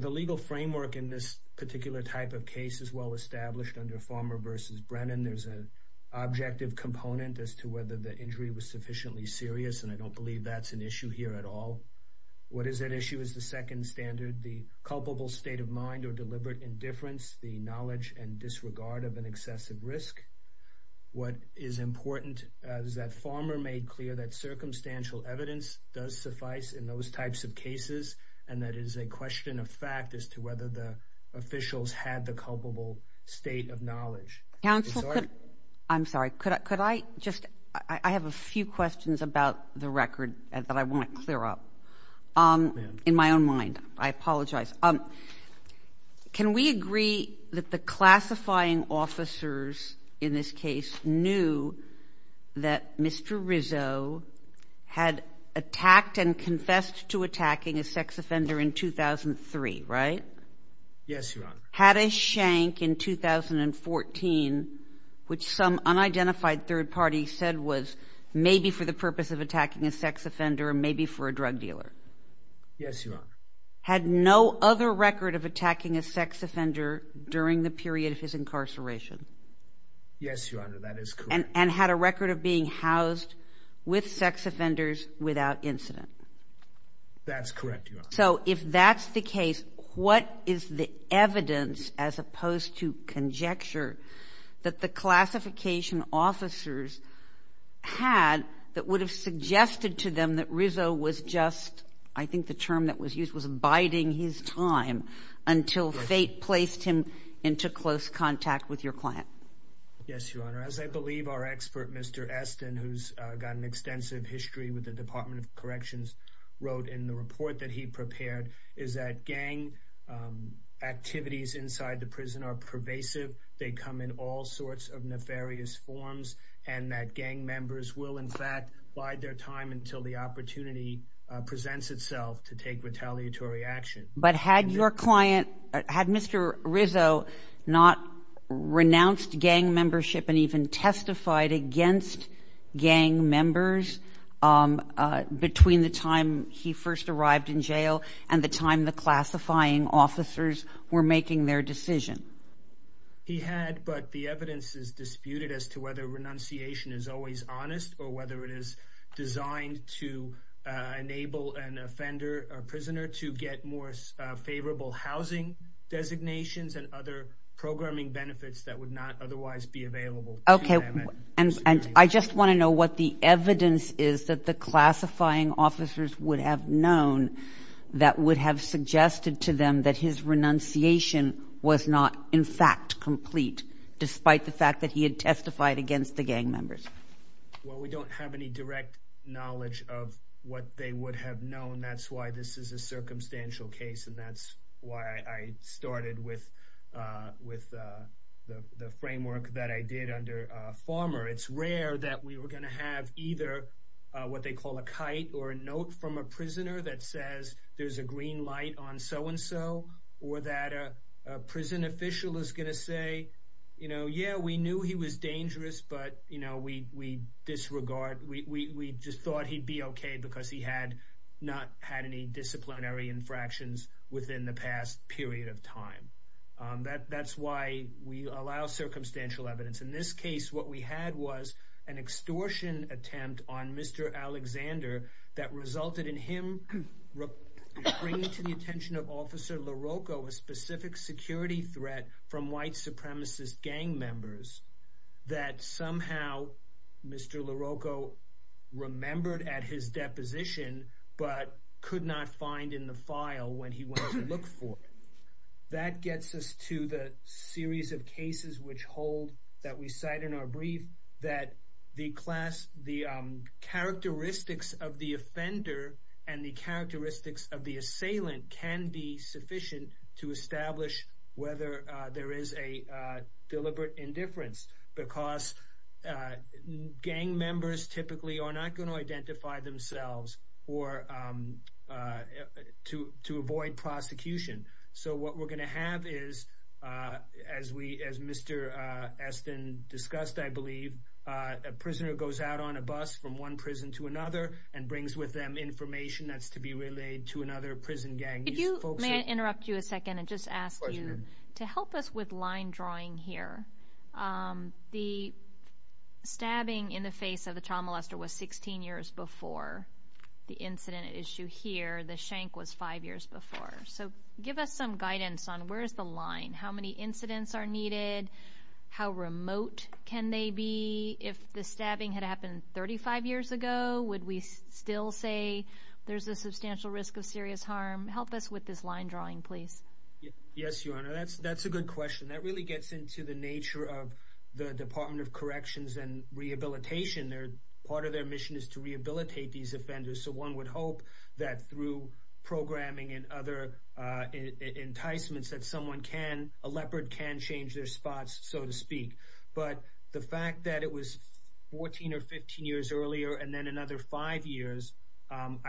The legal framework in this particular type of case is well established under Farmer v. Brennan. There's an objective component as to whether the injury was sufficiently serious, and I don't believe that's an issue here at all. What is at issue is the second standard, the culpable state of mind or deliberate indifference, the knowledge and disregard of an excessive risk. What is important is that Farmer made clear that circumstantial evidence does suffice in those types of cases, and that is a question of fact as to whether the officials had the culpable state of knowledge. I have a few questions about the record that I want to clear up in my own mind. I apologize. Can we agree that the classifying officers in this case knew that Mr. Rizzo had attacked and confessed to attacking a sex offender in 2003, right? Yes, Your Honor. Had a shank in 2014, which some unidentified third party said was maybe for the purpose of attacking a sex offender, maybe for a drug dealer? Yes, Your Honor. Had no other record of attacking a sex offender during the period of his incarceration? Yes, Your Honor, that is correct. And had a record of being housed with sex offenders without incident? That's correct, Your Honor. So if that's the case, what is the evidence as opposed to conjecture that the classification officers had that would have suggested to them that Rizzo was just, I think the term that was used was abiding his time until fate placed him into close contact with your client? Yes, Your Honor. As I believe our expert, Mr. Estin, who's got an extensive history with the Department of Corrections, wrote in the report that he prepared is that gang activities inside the prison are pervasive, they come in all sorts of nefarious forms, and that gang members will in fact bide their time until the opportunity presents itself to take retaliatory action. But had your client, had Mr. Rizzo not renounced gang membership and even testified against gang members between the time he first arrived in jail and the time the classifying officers were making their decision? He had, but the evidence is disputed as to whether renunciation is always honest or whether it is designed to enable an offender, a prisoner, to get more favorable housing designations and other programming benefits that would not otherwise be available to them. And I just want to know what the evidence is that the classifying officers would have known that would have suggested to them that his renunciation was not in fact complete, despite the fact that he had testified against the gang members. Well, we don't have any direct knowledge of what they would have known. That's why this is a circumstantial case and that's why I started with the framework that I did under Farmer. It's rare that we were going to have either what they call a kite or a note from a prisoner that says there's a green light on so-and-so or that a prison official is going to say, you know, yeah, we knew he was dangerous, but, you know, we disregard, we just thought he'd be okay because he had not had any disciplinary infractions within the past period of time. That's why we allow circumstantial evidence. In this case, what we had was an extortion attempt on Mr. Alexander that resulted in him bringing to the attention of Officer LaRocco a specific security threat from white supremacist gang members that somehow Mr. LaRocco remembered at his deposition but could not find in the file when he went to look for it. That gets us to the series of cases which hold that we cite in our brief that the class, the characteristics of the offender and the characteristics of the assailant can be sufficient to establish whether there is a deliberate indifference because gang members typically are not going to identify themselves to avoid prosecution. So what we're going to have is, as Mr. Esten discussed, I believe, a prisoner goes out on a bus from one prison to another and brings with them information that's to be relayed to another prison gang. Could you, may I interrupt you a second and just ask you to help us with line drawing here? The stabbing in the face of the child molester was 16 years before the incident at issue here. The shank was five years before. So give us some guidance on where is the line? How many incidents are needed? How remote can they be? If the stabbing had happened 35 years ago, would we still say there's a substantial risk of serious harm? Help us with this line drawing, please. Yes, Your Honor. That's a good question. That really gets into the nature of the Department of Corrections and Rehabilitation. Part of their mission is to rehabilitate these offenders. So one would hope that through programming and other enticements that a leopard can change their spots, so to speak. But the fact that it was 14 or 15 years earlier and then another five years, I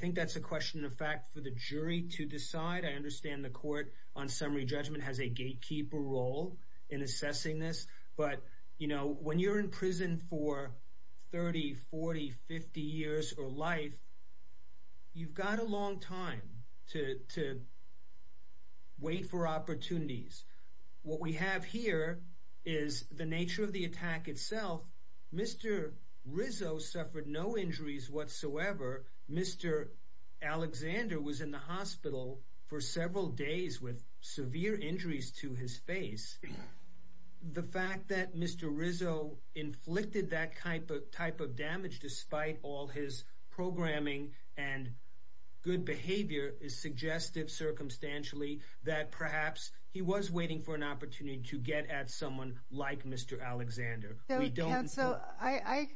think that's a question of fact for the jury to decide. I understand the Court on Summary Judgment has a gatekeeper role in assessing this. But you know, when you're in prison for 30, 40, 50 years or life, you've got a long time to wait for opportunities. What we have here is the nature of the attack itself. Mr. Rizzo suffered no injuries whatsoever. Mr. Alexander was in the hospital for several days with severe injuries to his face. The fact that Mr. Rizzo inflicted that type of damage despite all his programming and good behavior is suggestive, circumstantially, that perhaps he was waiting for an opportunity to get at someone like Mr. Alexander. So, counsel, I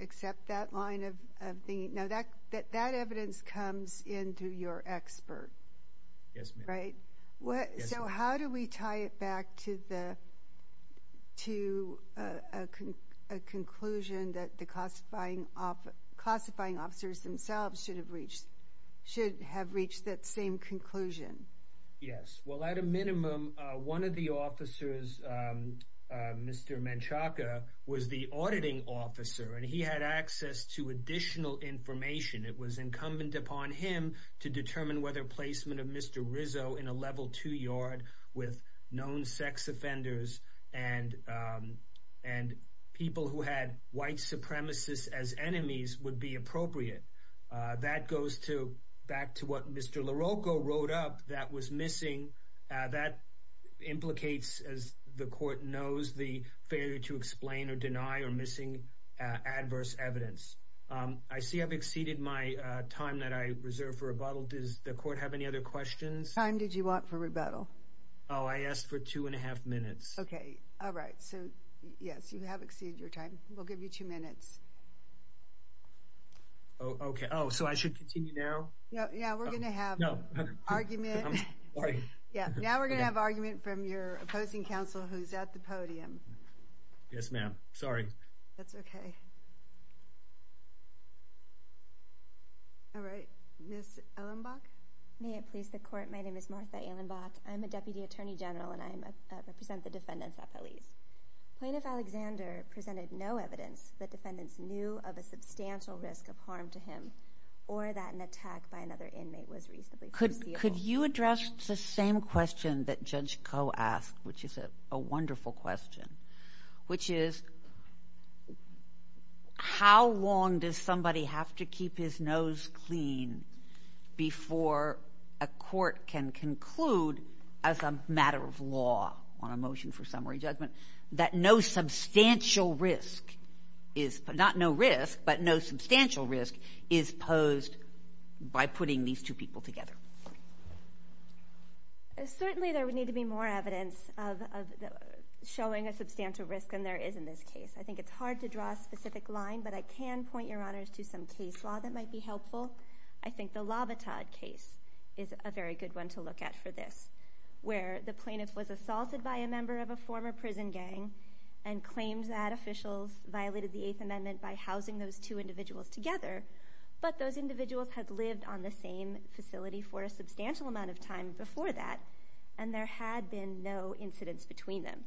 accept that line of thinking. Now, that evidence comes into your expert. Yes, ma'am. Right? Yes, ma'am. So how do we tie it back to a conclusion that the classifying officers themselves should have reached, should have reached that same conclusion? Yes. Well, at a minimum, one of the officers, Mr. Menchaca, was the auditing officer and he had access to additional information. It was incumbent upon him to determine whether placement of Mr. Rizzo in a level two yard with known sex offenders and people who had white supremacists as enemies would be appropriate. That goes back to what Mr. LaRocco wrote up that was missing. That implicates, as the court knows, the failure to explain or deny or missing adverse evidence. I see I've exceeded my time that I reserved for rebuttal. Does the court have any other questions? Time did you want for rebuttal? Oh, I asked for two and a half minutes. Okay. All right. So, yes, you have exceeded your time. We'll give you two minutes. Okay. Oh, so I should continue now? Yeah. We're going to have argument. Yeah. Now we're going to have argument from your opposing counsel who's at the podium. Yes, ma'am. Sorry. That's okay. All right. Ms. Ehlenbach? May it please the court. My name is Martha Ehlenbach. I'm a deputy attorney general and I represent the defendants at police. Plaintiff Alexander presented no evidence that defendants knew of a substantial risk of harm to him or that an attack by another inmate was reasonably foreseeable. Could you address the same question that Judge Koh asked, which is a wonderful question, which is how long does somebody have to keep his nose clean before a court can conclude as a matter of law, on a motion for summary judgment, that no substantial risk is – not no risk, but no substantial risk is posed by putting these two people together? Certainly, there would need to be more evidence of showing a substantial risk than there is in this case. I think it's hard to draw a specific line, but I can point, Your Honors, to some case law that might be helpful. I think the Lovatad case is a very good one to look at for this, where the plaintiff was assaulted by a member of a former prison gang and claims that officials violated the Eighth Amendment by housing those two individuals together, but those individuals had lived on the same facility for a substantial amount of time before that, and there had been no incidents between them.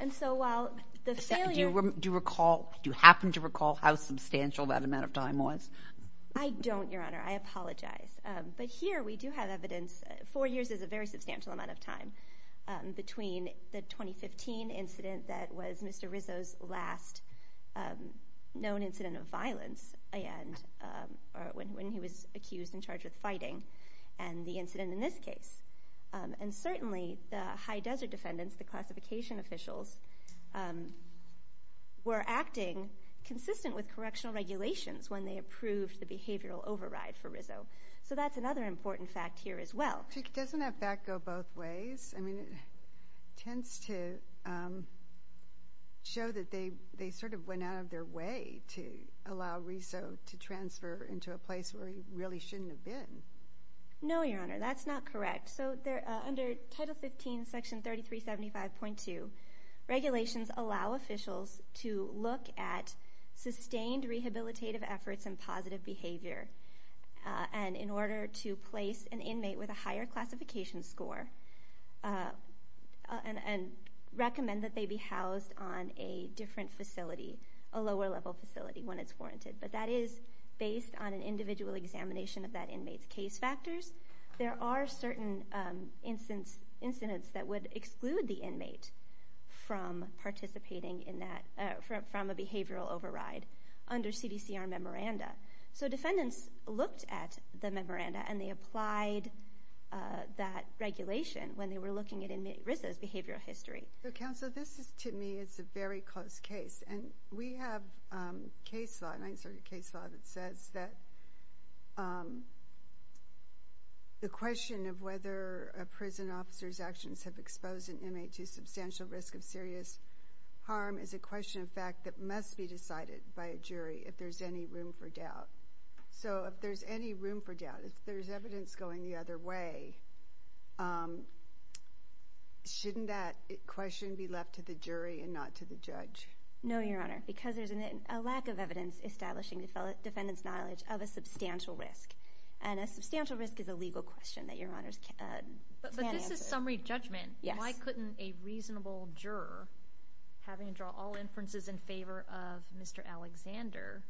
And so while the failure – Do you recall – do you happen to recall how substantial that amount of time was? I don't, Your Honor. I apologize. But here, we do have evidence – four years is a very substantial amount of time between the 2015 incident that was Mr. Rizzo's last known incident of violence, and – or when he was accused and charged with fighting, and the incident in this case. And certainly, the High Desert defendants, the classification officials, were acting consistent with correctional regulations when they approved the behavioral override for Rizzo. So that's another important fact here as well. Doesn't that fact go both ways? I mean, it tends to show that they sort of went out of their way to allow Rizzo to transfer into a place where he really shouldn't have been. No, Your Honor. That's not correct. So under Title 15, Section 3375.2, regulations allow officials to look at sustained rehabilitative efforts and positive behavior, and in order to place an inmate with a higher classification score, and recommend that they be housed on a different facility, a lower-level facility when it's warranted. But that is based on an individual examination of that inmate's case factors. There are certain incidents that would exclude the inmate from participating in that – from a behavioral override under CDCR memoranda. So defendants looked at the memoranda, and they applied that regulation when they were looking at Rizzo's behavioral history. Counsel, this is – to me, it's a very close case. And we have case law – and I inserted case law that says that the question of whether a prison officer's actions have exposed an inmate to substantial risk of serious harm is a question of fact that must be decided by a jury if there's any room for doubt. So if there's any room for doubt, if there's evidence going the other way, shouldn't that question be left to the jury and not to the judge? No, Your Honor, because there's a lack of evidence establishing the defendant's knowledge of a substantial risk. And a substantial risk is a legal question that Your Honors can't answer. But this is summary judgment. Yes. Why couldn't a reasonable juror, having to draw all inferences in favor of Mr. Alexander,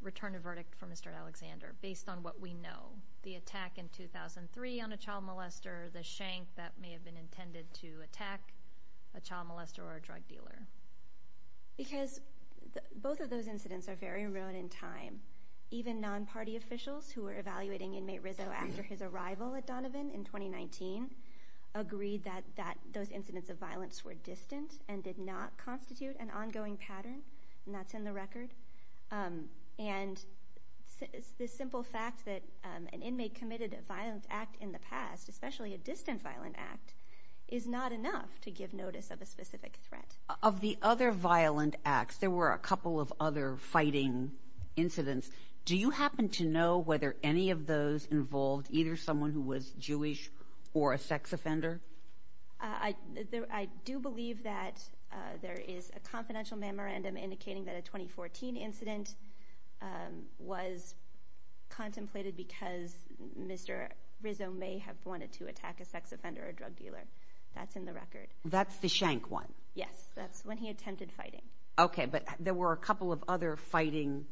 return a verdict for Mr. Alexander based on what we know? The attack in 2003 on a child molester, the shank that may have been intended to attack a child molester or a drug dealer. Because both of those incidents are very remote in time. Even non-party officials who were evaluating inmate Rizzo after his arrival at Donovan in 2019 agreed that those incidents of violence were distant and did not constitute an ongoing pattern, and that's in the record. And the simple fact that an inmate committed a violent act in the past, especially a distant violent act, is not enough to give notice of a specific threat. Of the other violent acts, there were a couple of other fighting incidents. Do you happen to know whether any of those involved either someone who was Jewish or a sex offender? I do believe that there is a confidential memorandum indicating that a 2014 incident was contemplated because Mr. Rizzo may have wanted to attack a sex offender or a drug dealer. That's in the record. That's the shank one? Yes, that's when he attempted fighting. Okay, but there were a couple of other fighting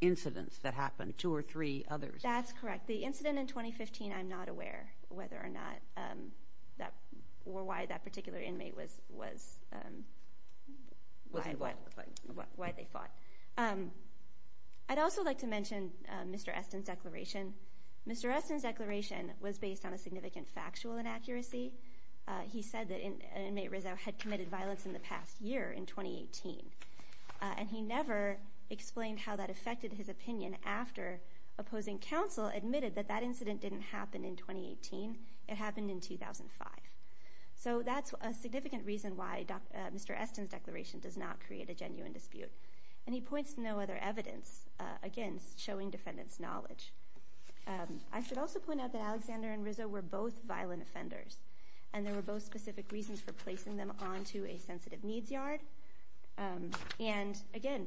incidents that happened, two or three others. That's correct. The incident in 2015, I'm not aware whether or not that, or why that particular inmate was involved in the fight. Why they fought. I'd also like to mention Mr. Esten's declaration. Mr. Esten's declaration was based on a significant factual inaccuracy. He said that an inmate, Rizzo, had committed violence in the past year, in 2018. And he never explained how that affected his opinion after opposing counsel admitted that that incident didn't happen in 2018, it happened in 2005. So that's a significant reason why Mr. Esten's declaration does not create a genuine dispute. And he points to no other evidence against showing defendant's knowledge. I should also point out that Alexander and Rizzo were both violent offenders. And there were both specific reasons for placing them onto a sensitive needs yard. And again,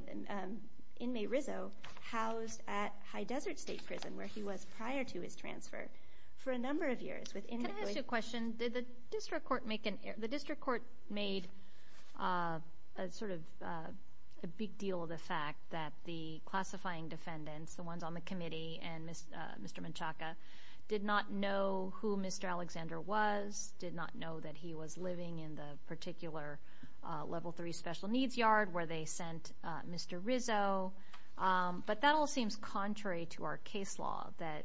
inmate Rizzo housed at High Desert State Prison, where he was prior to his transfer, for a number of years. Can I ask you a question? Did the district court make an error? The district court made sort of a big deal of the fact that the classifying defendants, the ones on the committee and Mr. Menchaca, did not know who Mr. Alexander was, did not know that he was living in the particular Level 3 special needs yard where they sent Mr. Rizzo. But that all seems contrary to our case law, that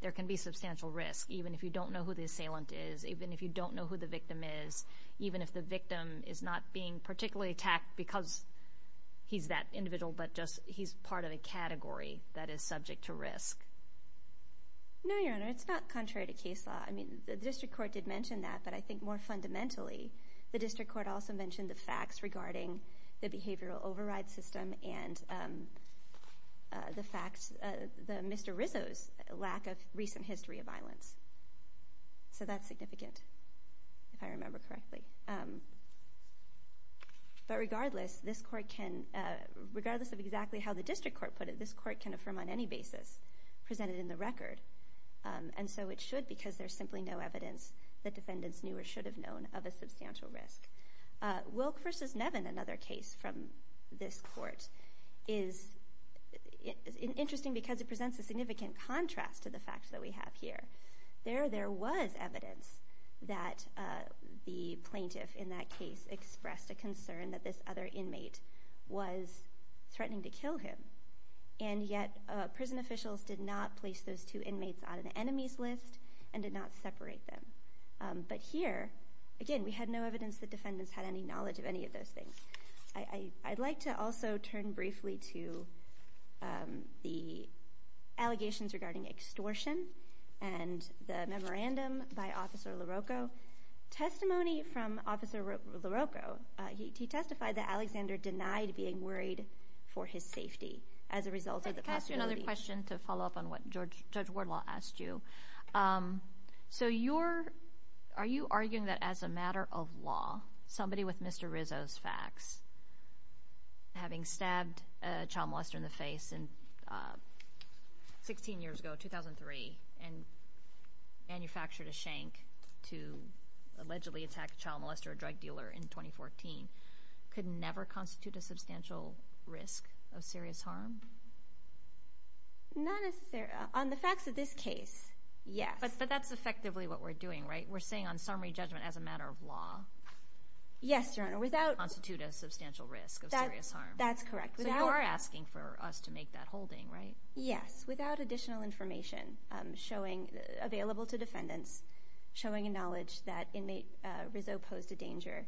there can be substantial risk, even if you don't know who the assailant is, even if you don't know who the victim is, even if the victim is not being particularly attacked because he's that individual, but just he's part of a category that is subject to risk. No, Your Honor, it's not contrary to case law. I mean, the district court did mention that, but I think more fundamentally, the district court also mentioned the facts regarding the behavioral override system and the facts, Mr. Rizzo's lack of recent history of violence. So that's significant, if I remember correctly. But regardless, this court can, regardless of exactly how the district court put it, this court can affirm on any basis presented in the record, and so it should because there's simply no evidence that defendants knew or should have known of a substantial risk. Wilk v. Nevin, another case from this court, is interesting because it presents a significant contrast to the facts that we have here. There was evidence that the plaintiff in that case expressed a concern that this other inmate was threatening to kill him, and yet prison officials did not place those two inmates on an enemies list and did not separate them. But here, again, we had no evidence that defendants had any knowledge of any of those things. I'd like to also turn briefly to the allegations regarding extortion and the memorandum by Officer LaRocco. Testimony from Officer LaRocco. He testified that Alexander denied being worried for his safety as a result of the possibility— I'd like to ask you another question to follow up on what Judge Wardlaw asked you. So you're—are you arguing that as a matter of law, somebody with Mr. Rizzo's facts, having stabbed a child molester in the face 16 years ago, 2003, and manufactured a shank to allegedly attack a child molester or drug dealer in 2014, could never constitute a substantial risk of serious harm? Not necessarily—on the facts of this case, yes. But that's effectively what we're doing, right? We're saying on summary judgment as a matter of law— Yes, Your Honor, without— —constitute a substantial risk of serious harm. That's correct. Without— So you are asking for us to make that holding, right? Yes, without additional information showing—available to defendants showing a knowledge that inmate Rizzo posed a danger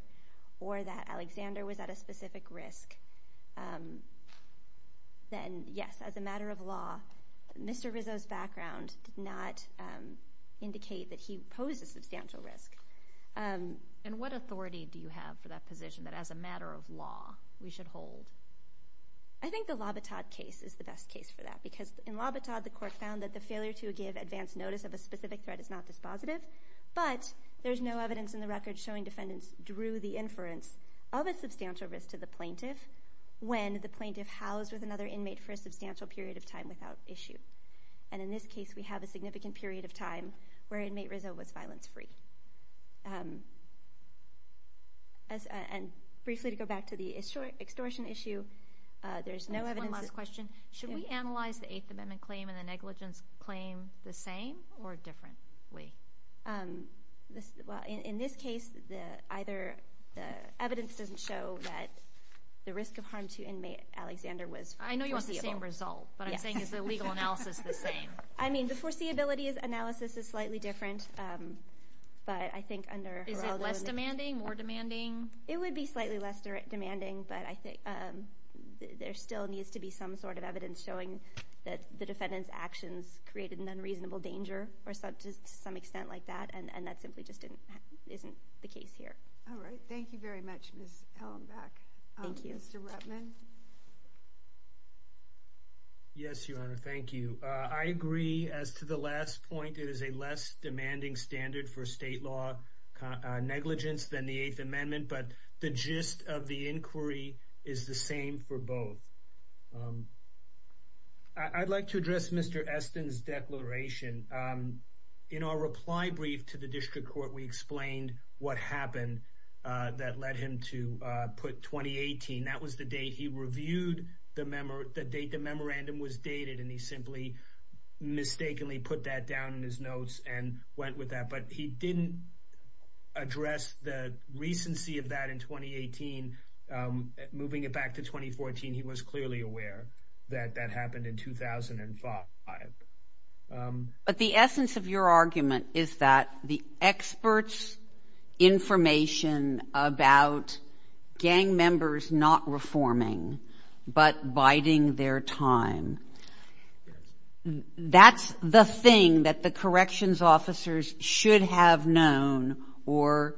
or that Alexander was at a specific risk, then, yes, as a matter of law, Mr. Rizzo's background did not indicate that he posed a substantial risk. And what authority do you have for that position, that as a matter of law, we should hold? I think the Labattad case is the best case for that, because in Labattad, the court found that the failure to give advance notice of a specific threat is not dispositive, but there's no evidence in the record showing defendants drew the inference of a substantial risk to the plaintiff when the plaintiff housed with another inmate for a substantial period of time without issue. And in this case, we have a significant period of time where inmate Rizzo was violence-free. And briefly, to go back to the extortion issue, there's no evidence— One last question. Should we analyze the Eighth Amendment claim and the negligence claim the same or differently? In this case, the evidence doesn't show that the risk of harm to inmate Alexander was foreseeable. I know you want the same result, but I'm saying is the legal analysis the same? I mean, the foreseeability analysis is slightly different, but I think under Heraldo— Is it less demanding, more demanding? It would be slightly less demanding, but I think there still needs to be some sort of evidence showing that the defendant's actions created an unreasonable danger to some extent like that, and that simply just isn't the case here. All right. Thank you very much, Ms. Ellenbach. Thank you. Mr. Ruppman? Yes, Your Honor. Thank you. I agree as to the last point. It is a less demanding standard for state law negligence than the Eighth Amendment, but the gist of the inquiry is the same for both. I'd like to address Mr. Esten's declaration. In our reply brief to the district court, we explained what happened that led him to put 2018. That was the date he reviewed the date the memorandum was dated, and he simply mistakenly put that down in his notes and went with that, but he didn't address the recency of that in 2018. Moving it back to 2014, he was clearly aware that that happened in 2005. But the essence of your argument is that the experts' information about gang members not reforming but biding their time, that's the thing that the corrections officers should have known or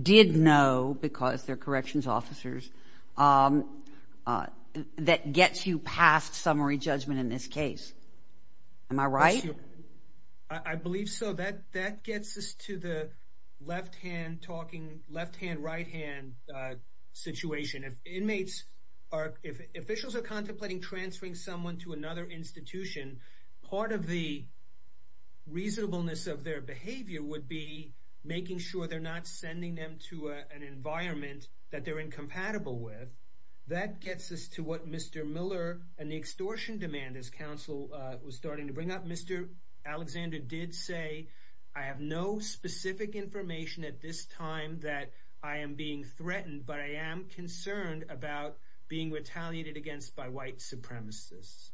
did know because they're corrections officers, that gets you past summary judgment in this case. Am I right? I believe so. That gets us to the left-hand talking, left-hand, right-hand situation. If officials are contemplating transferring someone to another institution, part of the reasonableness of their behavior would be making sure they're not sending them to an environment that they're incompatible with. That gets us to what Mr. Miller and the extortion demand, as counsel was starting to bring up. Mr. Alexander did say, I have no specific information at this time that I am being threatened, but I am concerned about being retaliated against by white supremacists.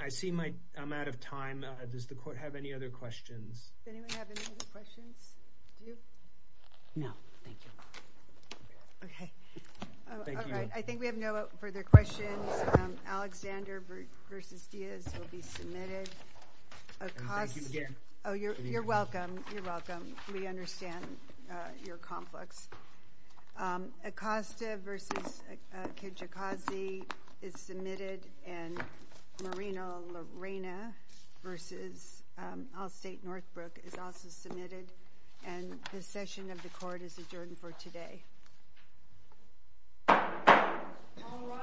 I see I'm out of time. Does the court have any other questions? Does anyone have any other questions? Do you? No. Thank you. Okay. Thank you. All right. I think we have no further questions. Alexander v. Diaz will be submitted. Thank you again. You're welcome. You're welcome. We understand your conflicts. Acosta v. Kejikazi is submitted, and Moreno-Lorena v. Allstate Northbrook is also submitted, and this session of the court is adjourned for today. All rise.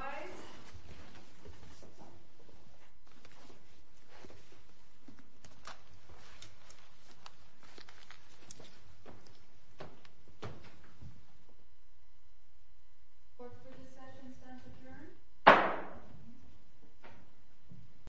Court procedure session is adjourned.